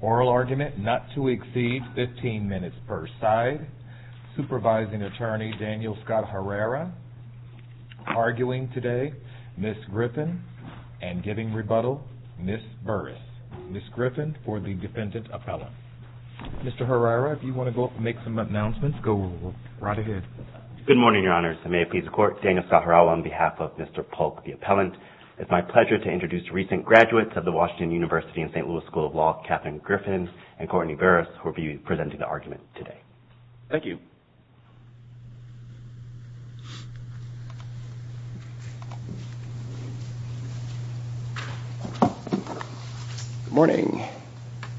oral argument not to exceed 15 minutes per side. Supervising attorney Daniel Scott Herrera arguing today, Ms. Griffin, and giving rebuttal, Ms. Burris. Ms. Griffin for the defendant Mr. Herrera, if you want to go up and make some announcements, go right ahead. Good morning, your honors. May it please the court, Daniel Scott Herrera on behalf of Mr. Paulk, the appellant. It's my pleasure to introduce recent graduates of the Washington University and St. Louis School of Law, Catherine Griffin and Courtney Burris, who will be presenting the argument today. Thank you.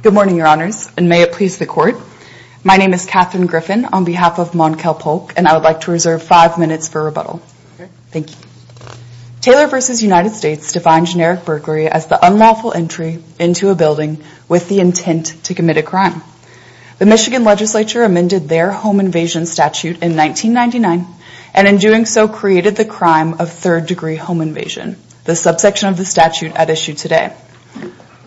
Good morning, your honors, and may it please the court. My name is Catherine Griffin on behalf of Monquel Paulk, and I would like to reserve five minutes for rebuttal. Thank you. Taylor v. United States defined generic burglary as the unlawful entry into a building with the intent to commit a crime. The Michigan legislature amended their home invasion statute in 1999, and in doing so created the crime of third-degree home invasion, the subsection of the statute at issue today.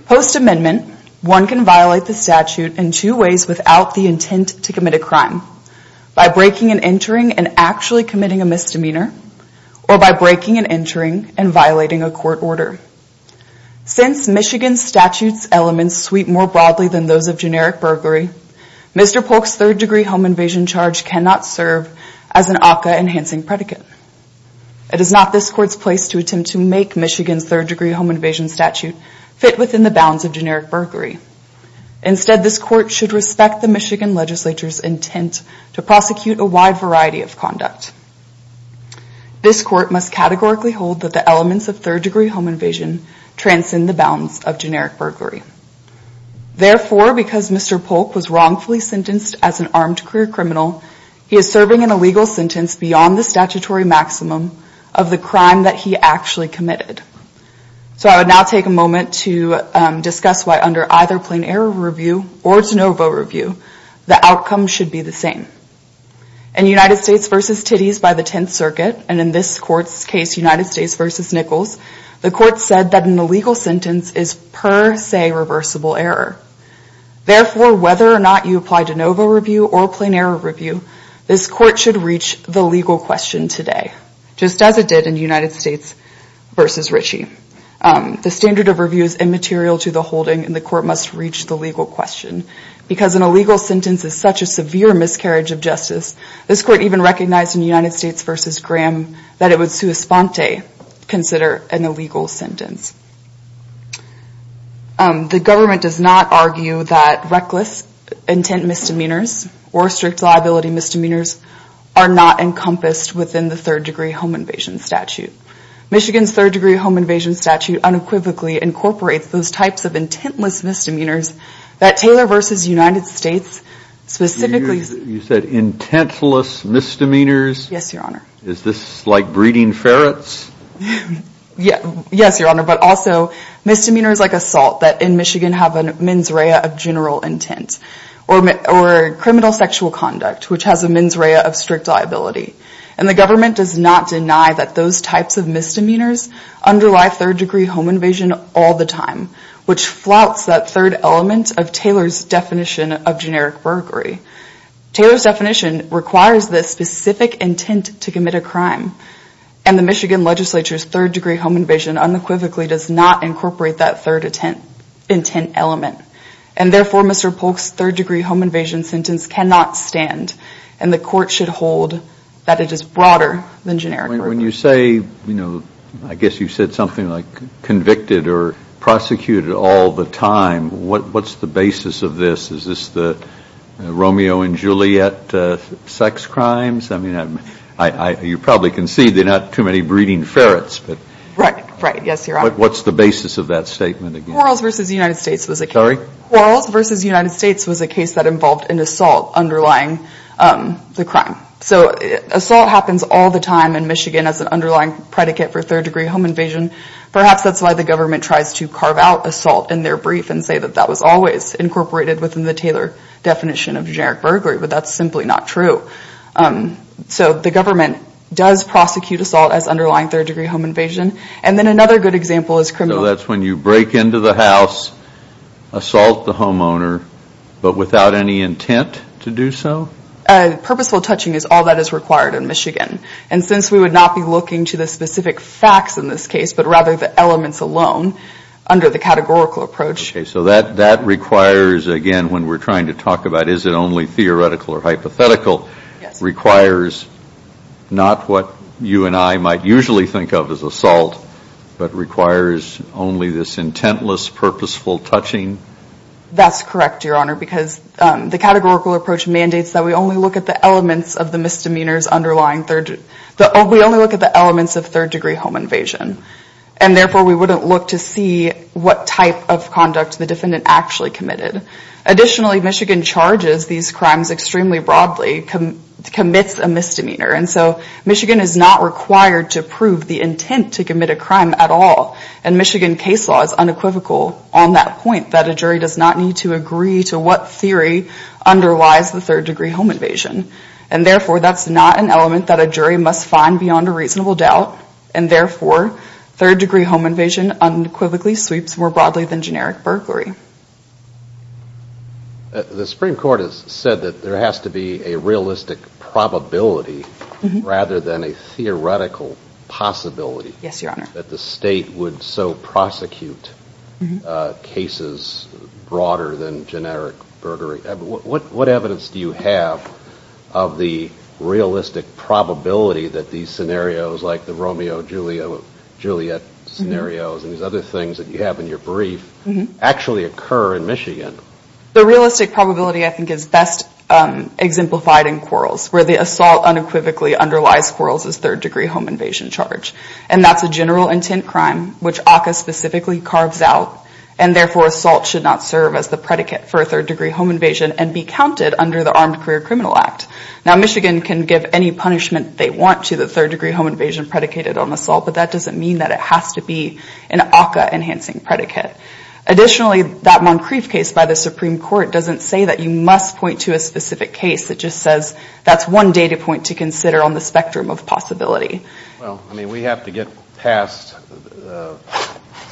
Post-amendment, one can violate the statute in two ways without the intent to commit a crime. By breaking and entering and actually committing a misdemeanor, or by breaking and entering and violating a court order. Since Michigan's statute's elements sweep more broadly than those of generic burglary, Mr. Paulk's third-degree home invasion charge cannot serve as an ACCA-enhancing predicate. It is not this court's place to attempt to make Michigan's third-degree home invasion statute fit within the bounds of generic burglary. Instead, this court should respect the Michigan legislature's intent to prosecute a wide variety of conduct. This court must categorically hold that the elements of third-degree home invasion transcend the bounds of generic burglary. Therefore, because Mr. Paulk was wrongfully sentenced as an armed career criminal, he is serving an illegal sentence beyond the statutory maximum of the crime that he actually committed. So I would now take a moment to discuss why under either plain error review or de novo review, the outcome should be the same. In United States v. Titties by the Tenth Circuit, and in this court's case, United States v. Nichols, the court said that an illegal sentence is per se reversible error. Therefore, whether or not you apply de novo review or plain error review, this court should reach the legal question today, just as it did in United States v. Ritchie. The standard of review is immaterial to the holding and the court must reach the legal question because an illegal sentence is such a severe miscarriage of justice. This court even recognized in United States v. Graham that it would sua sponte consider an illegal sentence. The government does not argue that reckless intent misdemeanors or strict liability misdemeanors are not encompassed within the third-degree home invasion statute. Michigan's third-degree home invasion statute unequivocally incorporates those types of intentless misdemeanors that Taylor v. United States specifically... You said intentless misdemeanors? Yes, Your Honor. Is this like breeding ferrets? Yes, Your Honor, but also misdemeanors like assault that in Michigan have a mens rea of general intent or criminal sexual conduct, which has a mens rea of strict liability. And the government does not deny that those types of misdemeanors underlie third-degree home invasion all the time, which flouts that third element of Taylor's definition of generic burglary. Taylor's definition requires the specific intent to commit a crime, and the Michigan legislature's third-degree home invasion unequivocally does not incorporate that third intent element. And therefore, Mr. Polk's third-degree home invasion sentence cannot stand, and the court should hold that it is broader than generic burglary. When you say, you know, I guess you said something like convicted or prosecuted all the time, what's the basis of this? Is this the Romeo and Juliet sex crimes? I mean, you probably can see they're not too many breeding ferrets. Right, right, yes, Your Honor. But what's the basis of that statement? Quarrels v. United States was a case that involved an assault underlying the crime. So assault happens all the time in Michigan as an underlying predicate for third-degree home invasion. Perhaps that's why the government tries to carve out assault in their brief and say that that was always incorporated within the Taylor definition of generic burglary, but that's simply not true. So the government does prosecute assault as underlying third-degree home invasion. And then another good example is criminal. So that's when you break into the house, assault the homeowner, but without any intent to do so? Purposeful touching is all that is required in Michigan. And since we would not be looking to the specific facts in this case, but rather the elements alone under the categorical approach. Okay, so that requires, again, when we're trying to talk about is it only theoretical or hypothetical, requires not what you and I might usually think of as assault, but requires only this intentless, purposeful touching? That's correct, Your Honor, because the categorical approach mandates that we only look at the elements of the misdemeanors underlying, we only look at the elements of third-degree home invasion. And therefore, we wouldn't look to see what type of conduct the defendant actually committed. Additionally, Michigan charges these crimes extremely broadly, commits a misdemeanor. And so Michigan is not required to prove the intent to commit a crime at all. And Michigan case law is unequivocal on that point, that a jury does not need to agree to what theory underlies the third-degree home invasion. And therefore, that's not an element that a jury must find beyond a reasonable doubt. And therefore, third-degree home invasion unequivocally sweeps more broadly than generic burglary. The Supreme Court has said that there has to be a realistic probability rather than a theoretical possibility. Yes, Your Honor. That the state would so prosecute cases broader than generic burglary. What evidence do you have of the realistic probability that these scenarios, like the Romeo-Juliet scenarios and these other things that you have in your brief, actually occur in Michigan? The realistic probability, I think, is best exemplified in quarrels, where the assault unequivocally underlies quarrels as third-degree home invasion charge. And that's a general intent crime, which ACCA specifically carves out. And therefore, assault should not serve as the predicate for a third-degree home invasion and be counted under the Armed Career Criminal Act. Now, Michigan can give any punishment they want to the third-degree home invasion predicated on assault, but that doesn't mean that it has to be an ACCA-enhancing predicate. Additionally, that Moncrief case by the Supreme Court doesn't say that you must point to a specific case. It just says that's one data point to consider on the spectrum of possibility. Well, I mean, we have to get past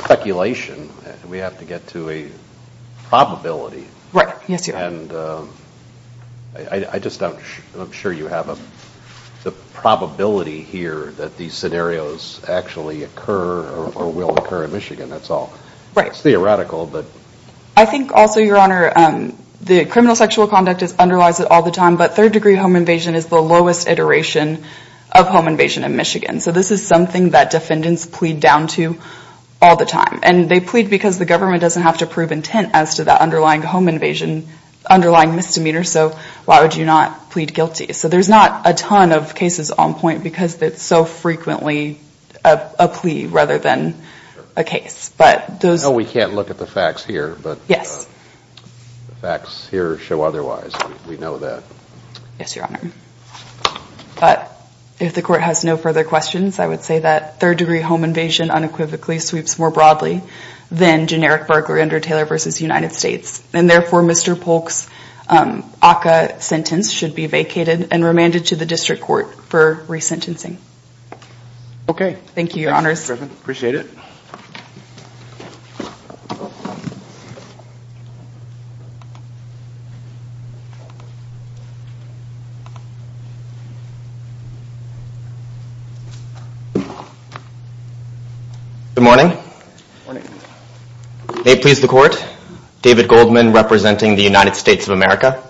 speculation. We have to get to a probability. Right. Yes, Your Honor. And I just don't, I'm sure you have the probability here that these scenarios actually occur or will occur in Michigan. That's all. Right. It's theoretical, but. I think also, Your Honor, the criminal sexual conduct underlies it all the time, but third-degree home invasion is the lowest iteration of home invasion in Michigan. So this is something that defendants plead down to all the time. And they plead because the government doesn't have to prove intent as to the underlying home invasion, underlying misdemeanor. So why would you not plead guilty? So there's not a ton of cases on point because it's so frequently a plea rather than a case. But those. But. Yes. The facts here show otherwise. We know that. Yes, Your Honor. But if the court has no further questions, I would say that third-degree home invasion unequivocally sweeps more broadly than generic burglary under Taylor v. United States. And therefore, Mr. Polk's ACCA sentence should be vacated and remanded to the district court for resentencing. Okay. Thank you, Your Honors. Appreciate it. Thank you. Good morning. Good morning. May it please the Court. David Goldman representing the United States of America.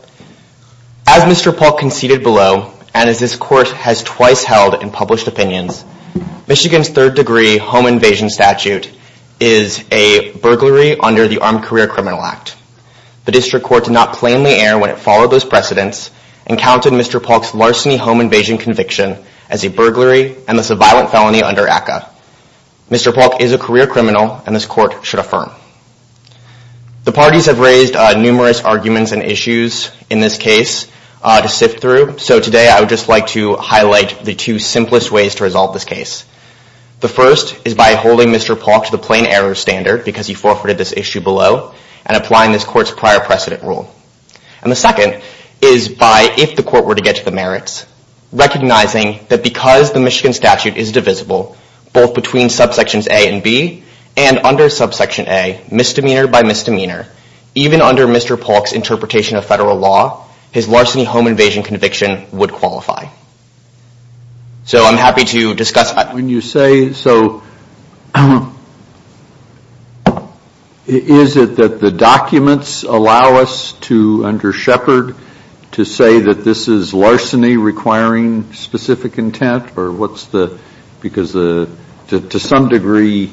As Mr. Polk conceded below, and as this Court has twice held in published opinions, Michigan's third-degree home invasion statute is a burglary under the Armed Career Criminal Act. The district court did not plainly err when it followed those precedents and counted Mr. Polk's larceny home invasion conviction as a burglary and thus a violent felony under ACCA. Mr. Polk is a career criminal, and this Court should affirm. The parties have raised numerous arguments and issues in this case to sift through, so today I would just like to highlight the two simplest ways to resolve this case. The first is by holding Mr. Polk to the plain error standard because he forfeited this issue below and applying this Court's prior precedent rule. And the second is by, if the Court were to get to the merits, recognizing that because the Michigan statute is divisible, both between subsections A and B, and under subsection A, misdemeanor by misdemeanor, even under Mr. Polk's interpretation of federal law, his larceny home invasion conviction would qualify. So I'm happy to discuss that. When you say, so, is it that the documents allow us to, under Shepard, to say that this is larceny requiring specific intent or what's the, because to some degree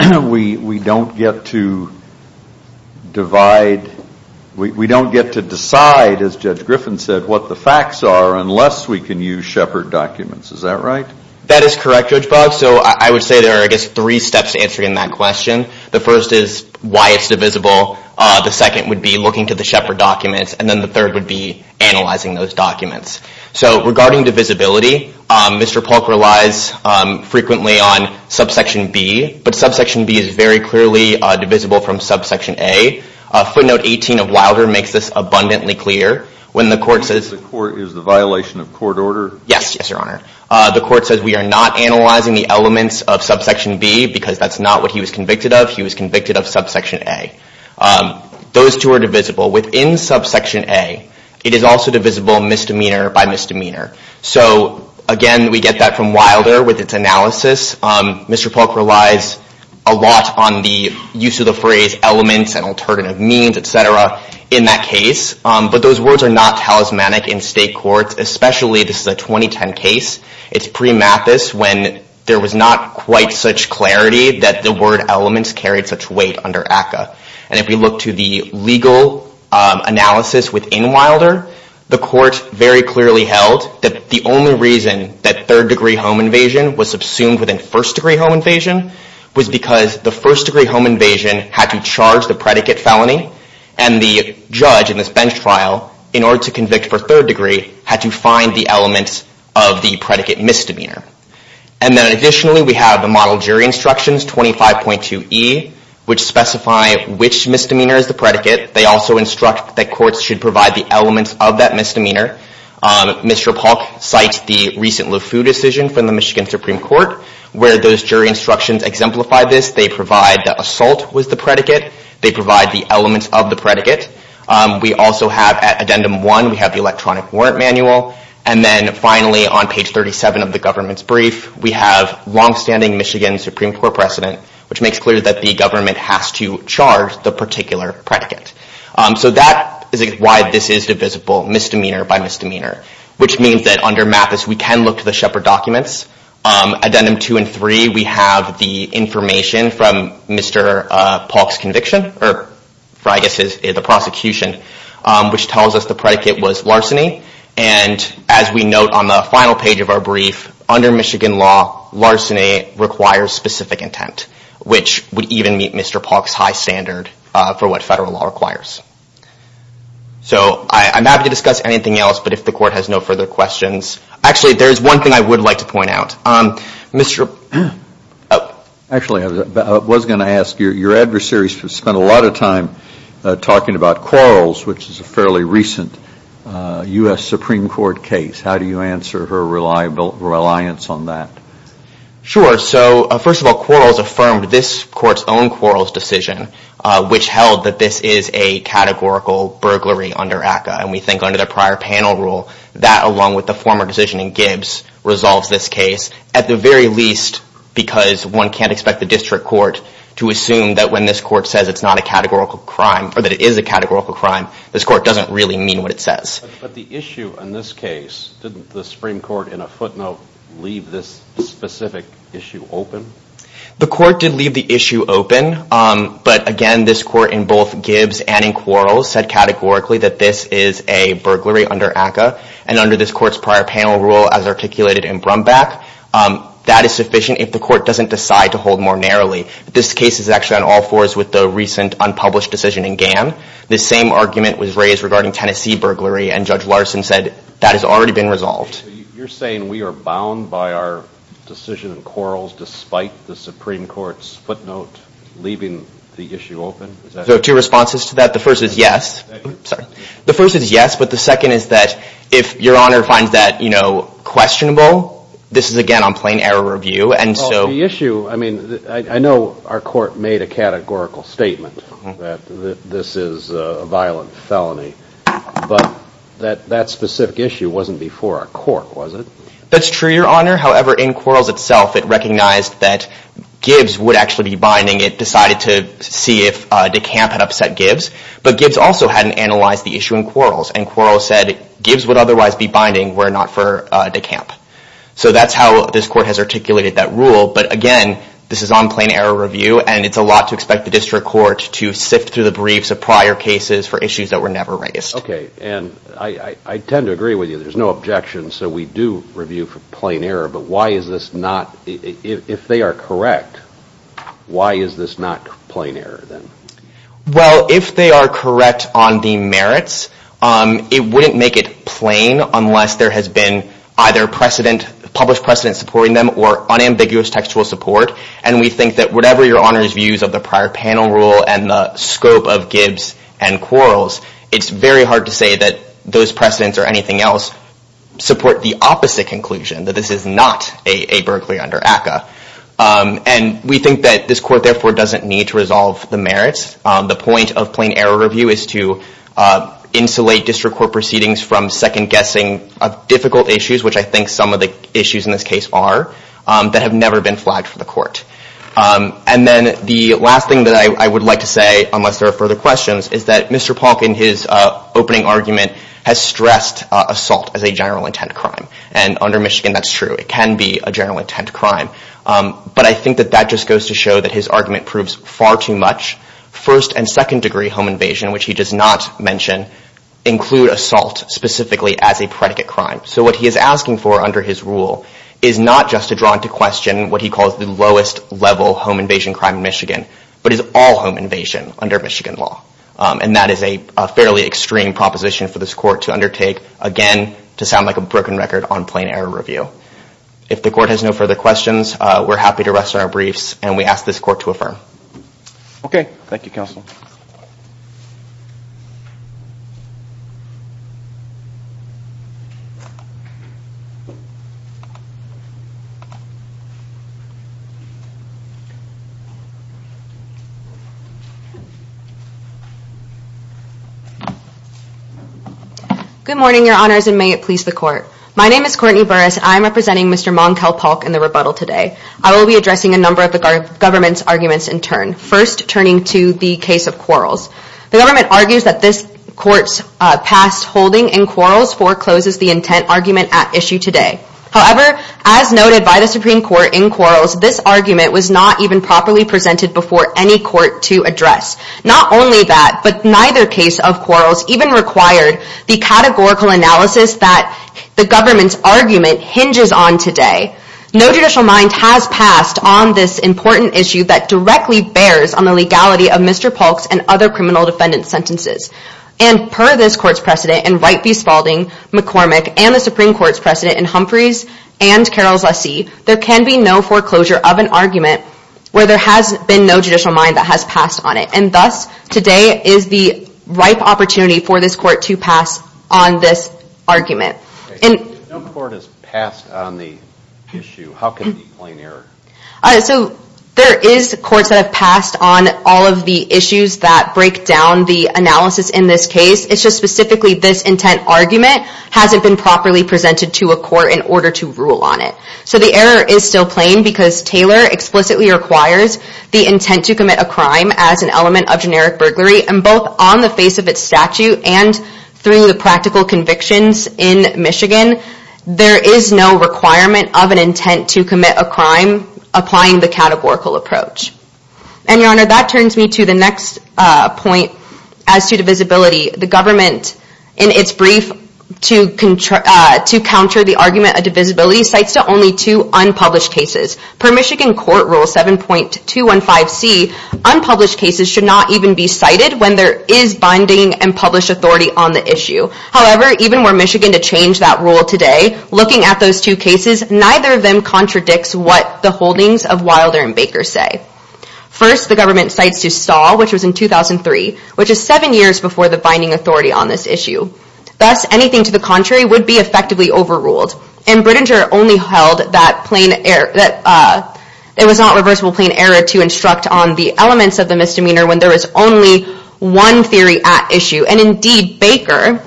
we don't get to divide, we don't get to decide, as Judge Griffin said, what the facts are unless we can use Shepard documents. Is that right? That is correct, Judge Boggs. So I would say there are, I guess, three steps to answering that question. The first is why it's divisible. The second would be looking to the Shepard documents. And then the third would be analyzing those documents. So regarding divisibility, Mr. Polk relies frequently on subsection B, but subsection B is very clearly divisible from subsection A. Footnote 18 of Wilder makes this abundantly clear. When the Court says- Is the violation of court order? Yes, yes, Your Honor. The Court says we are not analyzing the elements of subsection B because that's not what he was convicted of. He was convicted of subsection A. Those two are divisible. Within subsection A, it is also divisible misdemeanor by misdemeanor. So, again, we get that from Wilder with its analysis. Mr. Polk relies a lot on the use of the phrase elements and alternative means, et cetera, in that case. But those words are not talismanic in state courts, especially this is a 2010 case. It's pre-Mathis when there was not quite such clarity that the word elements carried such weight under ACCA. And if we look to the legal analysis within Wilder, the Court very clearly held that the only reason that third-degree home invasion was subsumed within first-degree home invasion was because the first-degree home invasion had to charge the predicate felony. And the judge in this bench trial, in order to convict for third-degree, had to find the elements of the predicate misdemeanor. And then additionally, we have the model jury instructions, 25.2e, which specify which misdemeanor is the predicate. They also instruct that courts should provide the elements of that misdemeanor. Mr. Polk cites the recent Lefeu decision from the Michigan Supreme Court where those jury instructions exemplify this. They provide that assault was the predicate. They provide the elements of the predicate. We also have, at Addendum 1, we have the electronic warrant manual. And then finally, on page 37 of the government's brief, we have longstanding Michigan Supreme Court precedent, which makes clear that the government has to charge the particular predicate. So that is why this is divisible misdemeanor by misdemeanor, which means that under Mathis we can look to the Shepard documents. Addendum 2 and 3, we have the information from Mr. Polk's conviction, or I guess the prosecution, which tells us the predicate was larceny. And as we note on the final page of our brief, under Michigan law, larceny requires specific intent, which would even meet Mr. Polk's high standard for what federal law requires. So I'm happy to discuss anything else, but if the court has no further questions. Actually, there is one thing I would like to point out. Actually, I was going to ask, your adversaries have spent a lot of time talking about Quarles, which is a fairly recent U.S. Supreme Court case. How do you answer her reliance on that? Sure, so first of all, Quarles affirmed this court's own Quarles decision, which held that this is a categorical burglary under ACCA. And we think under the prior panel rule, that along with the former decision in Gibbs, resolves this case, at the very least because one can't expect the district court to assume that when this court says it's not a categorical crime, or that it is a categorical crime, this court doesn't really mean what it says. But the issue in this case, didn't the Supreme Court in a footnote leave this specific issue open? The court did leave the issue open, but again, this court in both Gibbs and in Quarles said categorically that this is a burglary under ACCA, and under this court's prior panel rule as articulated in Brumback, that is sufficient if the court doesn't decide to hold more narrowly. This case is actually on all fours with the recent unpublished decision in GAM. The same argument was raised regarding Tennessee burglary, and Judge Larson said that has already been resolved. You're saying we are bound by our decision in Quarles, despite the Supreme Court's footnote leaving the issue open? I have two responses to that. The first is yes, but the second is that if Your Honor finds that questionable, this is again on plain error review. The issue, I mean, I know our court made a categorical statement that this is a violent felony, but that specific issue wasn't before our court, was it? That's true, Your Honor. However, in Quarles itself, it recognized that Gibbs would actually be binding. It decided to see if DeCamp had upset Gibbs, but Gibbs also hadn't analyzed the issue in Quarles, and Quarles said Gibbs would otherwise be binding were it not for DeCamp. So that's how this court has articulated that rule, but again, this is on plain error review, and it's a lot to expect the district court to sift through the briefs of prior cases for issues that were never raised. Okay, and I tend to agree with you. There's no objection, so we do review for plain error, but why is this not, if they are correct, why is this not plain error then? Well, if they are correct on the merits, it wouldn't make it plain unless there has been either published precedent supporting them or unambiguous textual support, and we think that whatever Your Honor's views of the prior panel rule and the scope of Gibbs and Quarles, it's very hard to say that those precedents or anything else support the opposite conclusion, that this is not a burglary under ACCA, and we think that this court therefore doesn't need to resolve the merits. The point of plain error review is to insulate district court proceedings from second-guessing of difficult issues, which I think some of the issues in this case are, that have never been flagged for the court. And then the last thing that I would like to say, unless there are further questions, is that Mr. Polk in his opening argument has stressed assault as a general intent crime, and under Michigan that's true. It can be a general intent crime, but I think that that just goes to show that his argument proves far too much. First and second degree home invasion, which he does not mention, include assault specifically as a predicate crime. So what he is asking for under his rule is not just to draw into question what he calls the lowest level home invasion crime in Michigan, but is all home invasion under Michigan law, and that is a fairly extreme proposition for this court to undertake, again, to sound like a broken record on plain error review. If the court has no further questions, we're happy to rest on our briefs, and we ask this court to affirm. Okay. Thank you, counsel. Good morning, Your Honors, and may it please the court. My name is Courtney Burris, and I am representing Mr. Monkel Polk in the rebuttal today. I will be addressing a number of the government's arguments in turn, first turning to the case of Quarles. The government argues that this court's past holding in Quarles forecloses the intent argument at issue today. However, as noted by the Supreme Court in Quarles, this argument was not even properly presented before any court to address. Not only that, but neither case of Quarles even required the categorical analysis that the government's argument hinges on today. No judicial mind has passed on this important issue that directly bears on the legality of Mr. Polk's and other criminal defendants' sentences. And per this court's precedent in Wright v. Spalding, McCormick, and the Supreme Court's precedent in Humphreys and Quarles v. Lassie, there can be no foreclosure of an argument where there has been no judicial mind that has passed on it. And thus, today is the ripe opportunity for this court to pass on this argument. If no court has passed on the issue, how can it be a plain error? So there is courts that have passed on all of the issues that break down the analysis in this case. It's just specifically this intent argument hasn't been properly presented to a court in order to rule on it. So the error is still plain because Taylor explicitly requires the intent to commit a crime as an element of generic burglary, and both on the face of its statute and through the practical convictions in Michigan, there is no requirement of an intent to commit a crime applying the categorical approach. And, Your Honor, that turns me to the next point as to divisibility. The government, in its brief to counter the argument of divisibility, cites only two unpublished cases. Per Michigan Court Rule 7.215C, unpublished cases should not even be cited when there is binding and published authority on the issue. However, even were Michigan to change that rule today, looking at those two cases, neither of them contradicts what the holdings of Wilder and Baker say. First, the government cites to Stahl, which was in 2003, which is seven years before the binding authority on this issue. Thus, anything to the contrary would be effectively overruled. And Brittinger only held that it was not reversible plain error to instruct on the elements of the misdemeanor when there was only one theory at issue. And, indeed, Baker,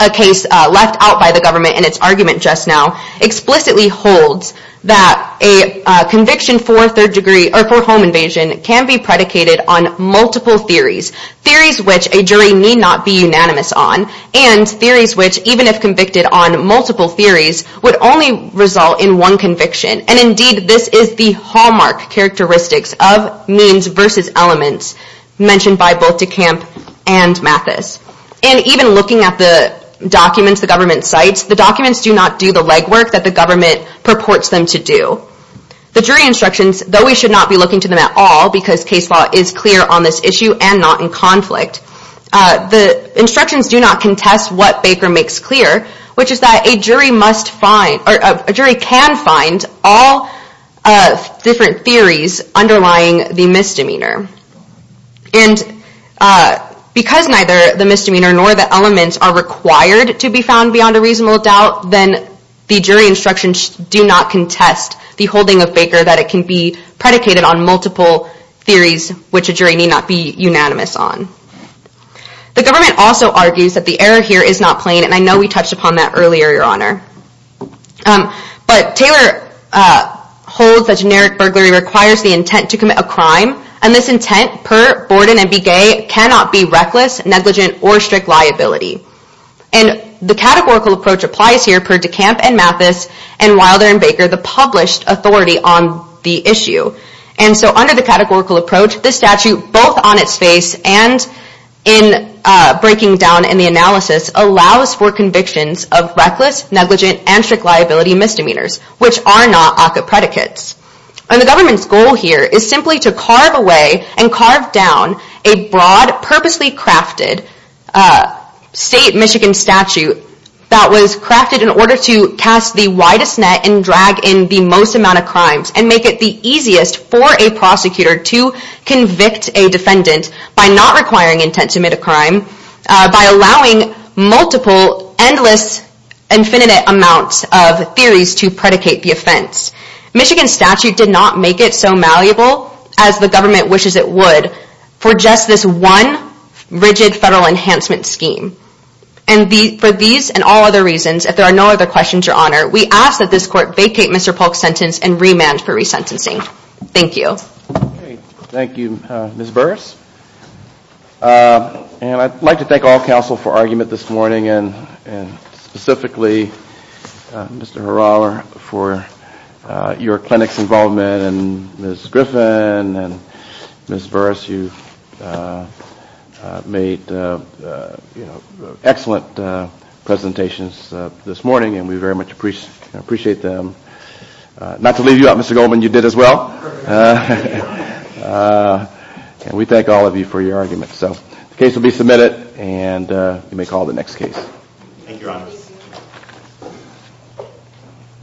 a case left out by the government in its argument just now, explicitly holds that a conviction for home invasion can be predicated on multiple theories, theories which a jury need not be unanimous on, and theories which, even if convicted on multiple theories, would only result in one conviction. And, indeed, this is the hallmark characteristics of means versus elements mentioned by both DeCamp and Mathis. And even looking at the documents the government cites, the documents do not do the legwork that the government purports them to do. The jury instructions, though we should not be looking to them at all, because case law is clear on this issue and not in conflict, the instructions do not contest what Baker makes clear, which is that a jury can find all different theories underlying the misdemeanor. And because neither the misdemeanor nor the elements are required to be found beyond a reasonable doubt, then the jury instructions do not contest the holding of Baker that it can be predicated on multiple theories which a jury need not be unanimous on. The government also argues that the error here is not plain, and I know we touched upon that earlier, Your Honor. But Taylor holds that generic burglary requires the intent to commit a crime, and this intent, per Borden and Begay, cannot be reckless, negligent, or strict liability. And the categorical approach applies here per DeCamp and Mathis, and Wilder and Baker, the published authority on the issue. And so under the categorical approach, this statute, both on its face and in breaking down in the analysis, allows for convictions of reckless, negligent, and strict liability misdemeanors, which are not ACCA predicates. And the government's goal here is simply to carve away and carve down a broad, purposely crafted state Michigan statute that was crafted in order to cast the widest net and drag in the most amount of crimes, and make it the easiest for a prosecutor to convict a defendant by not requiring intent to commit a crime, by allowing multiple, endless, infinite amounts of theories to predicate the offense. Michigan statute did not make it so malleable, as the government wishes it would, for just this one rigid federal enhancement scheme. And for these and all other reasons, if there are no other questions, Your Honor, we ask that this court vacate Mr. Polk's sentence and remand for resentencing. Thank you. Thank you, Ms. Burris. And I'd like to thank all counsel for argument this morning, and specifically Mr. Hurala for your clinic's involvement, and Ms. Griffin, and Ms. Burris, you made excellent presentations this morning, and we very much appreciate them. Not to leave you out, Mr. Goldman, you did as well. And we thank all of you for your argument. So the case will be submitted, and you may call the next case.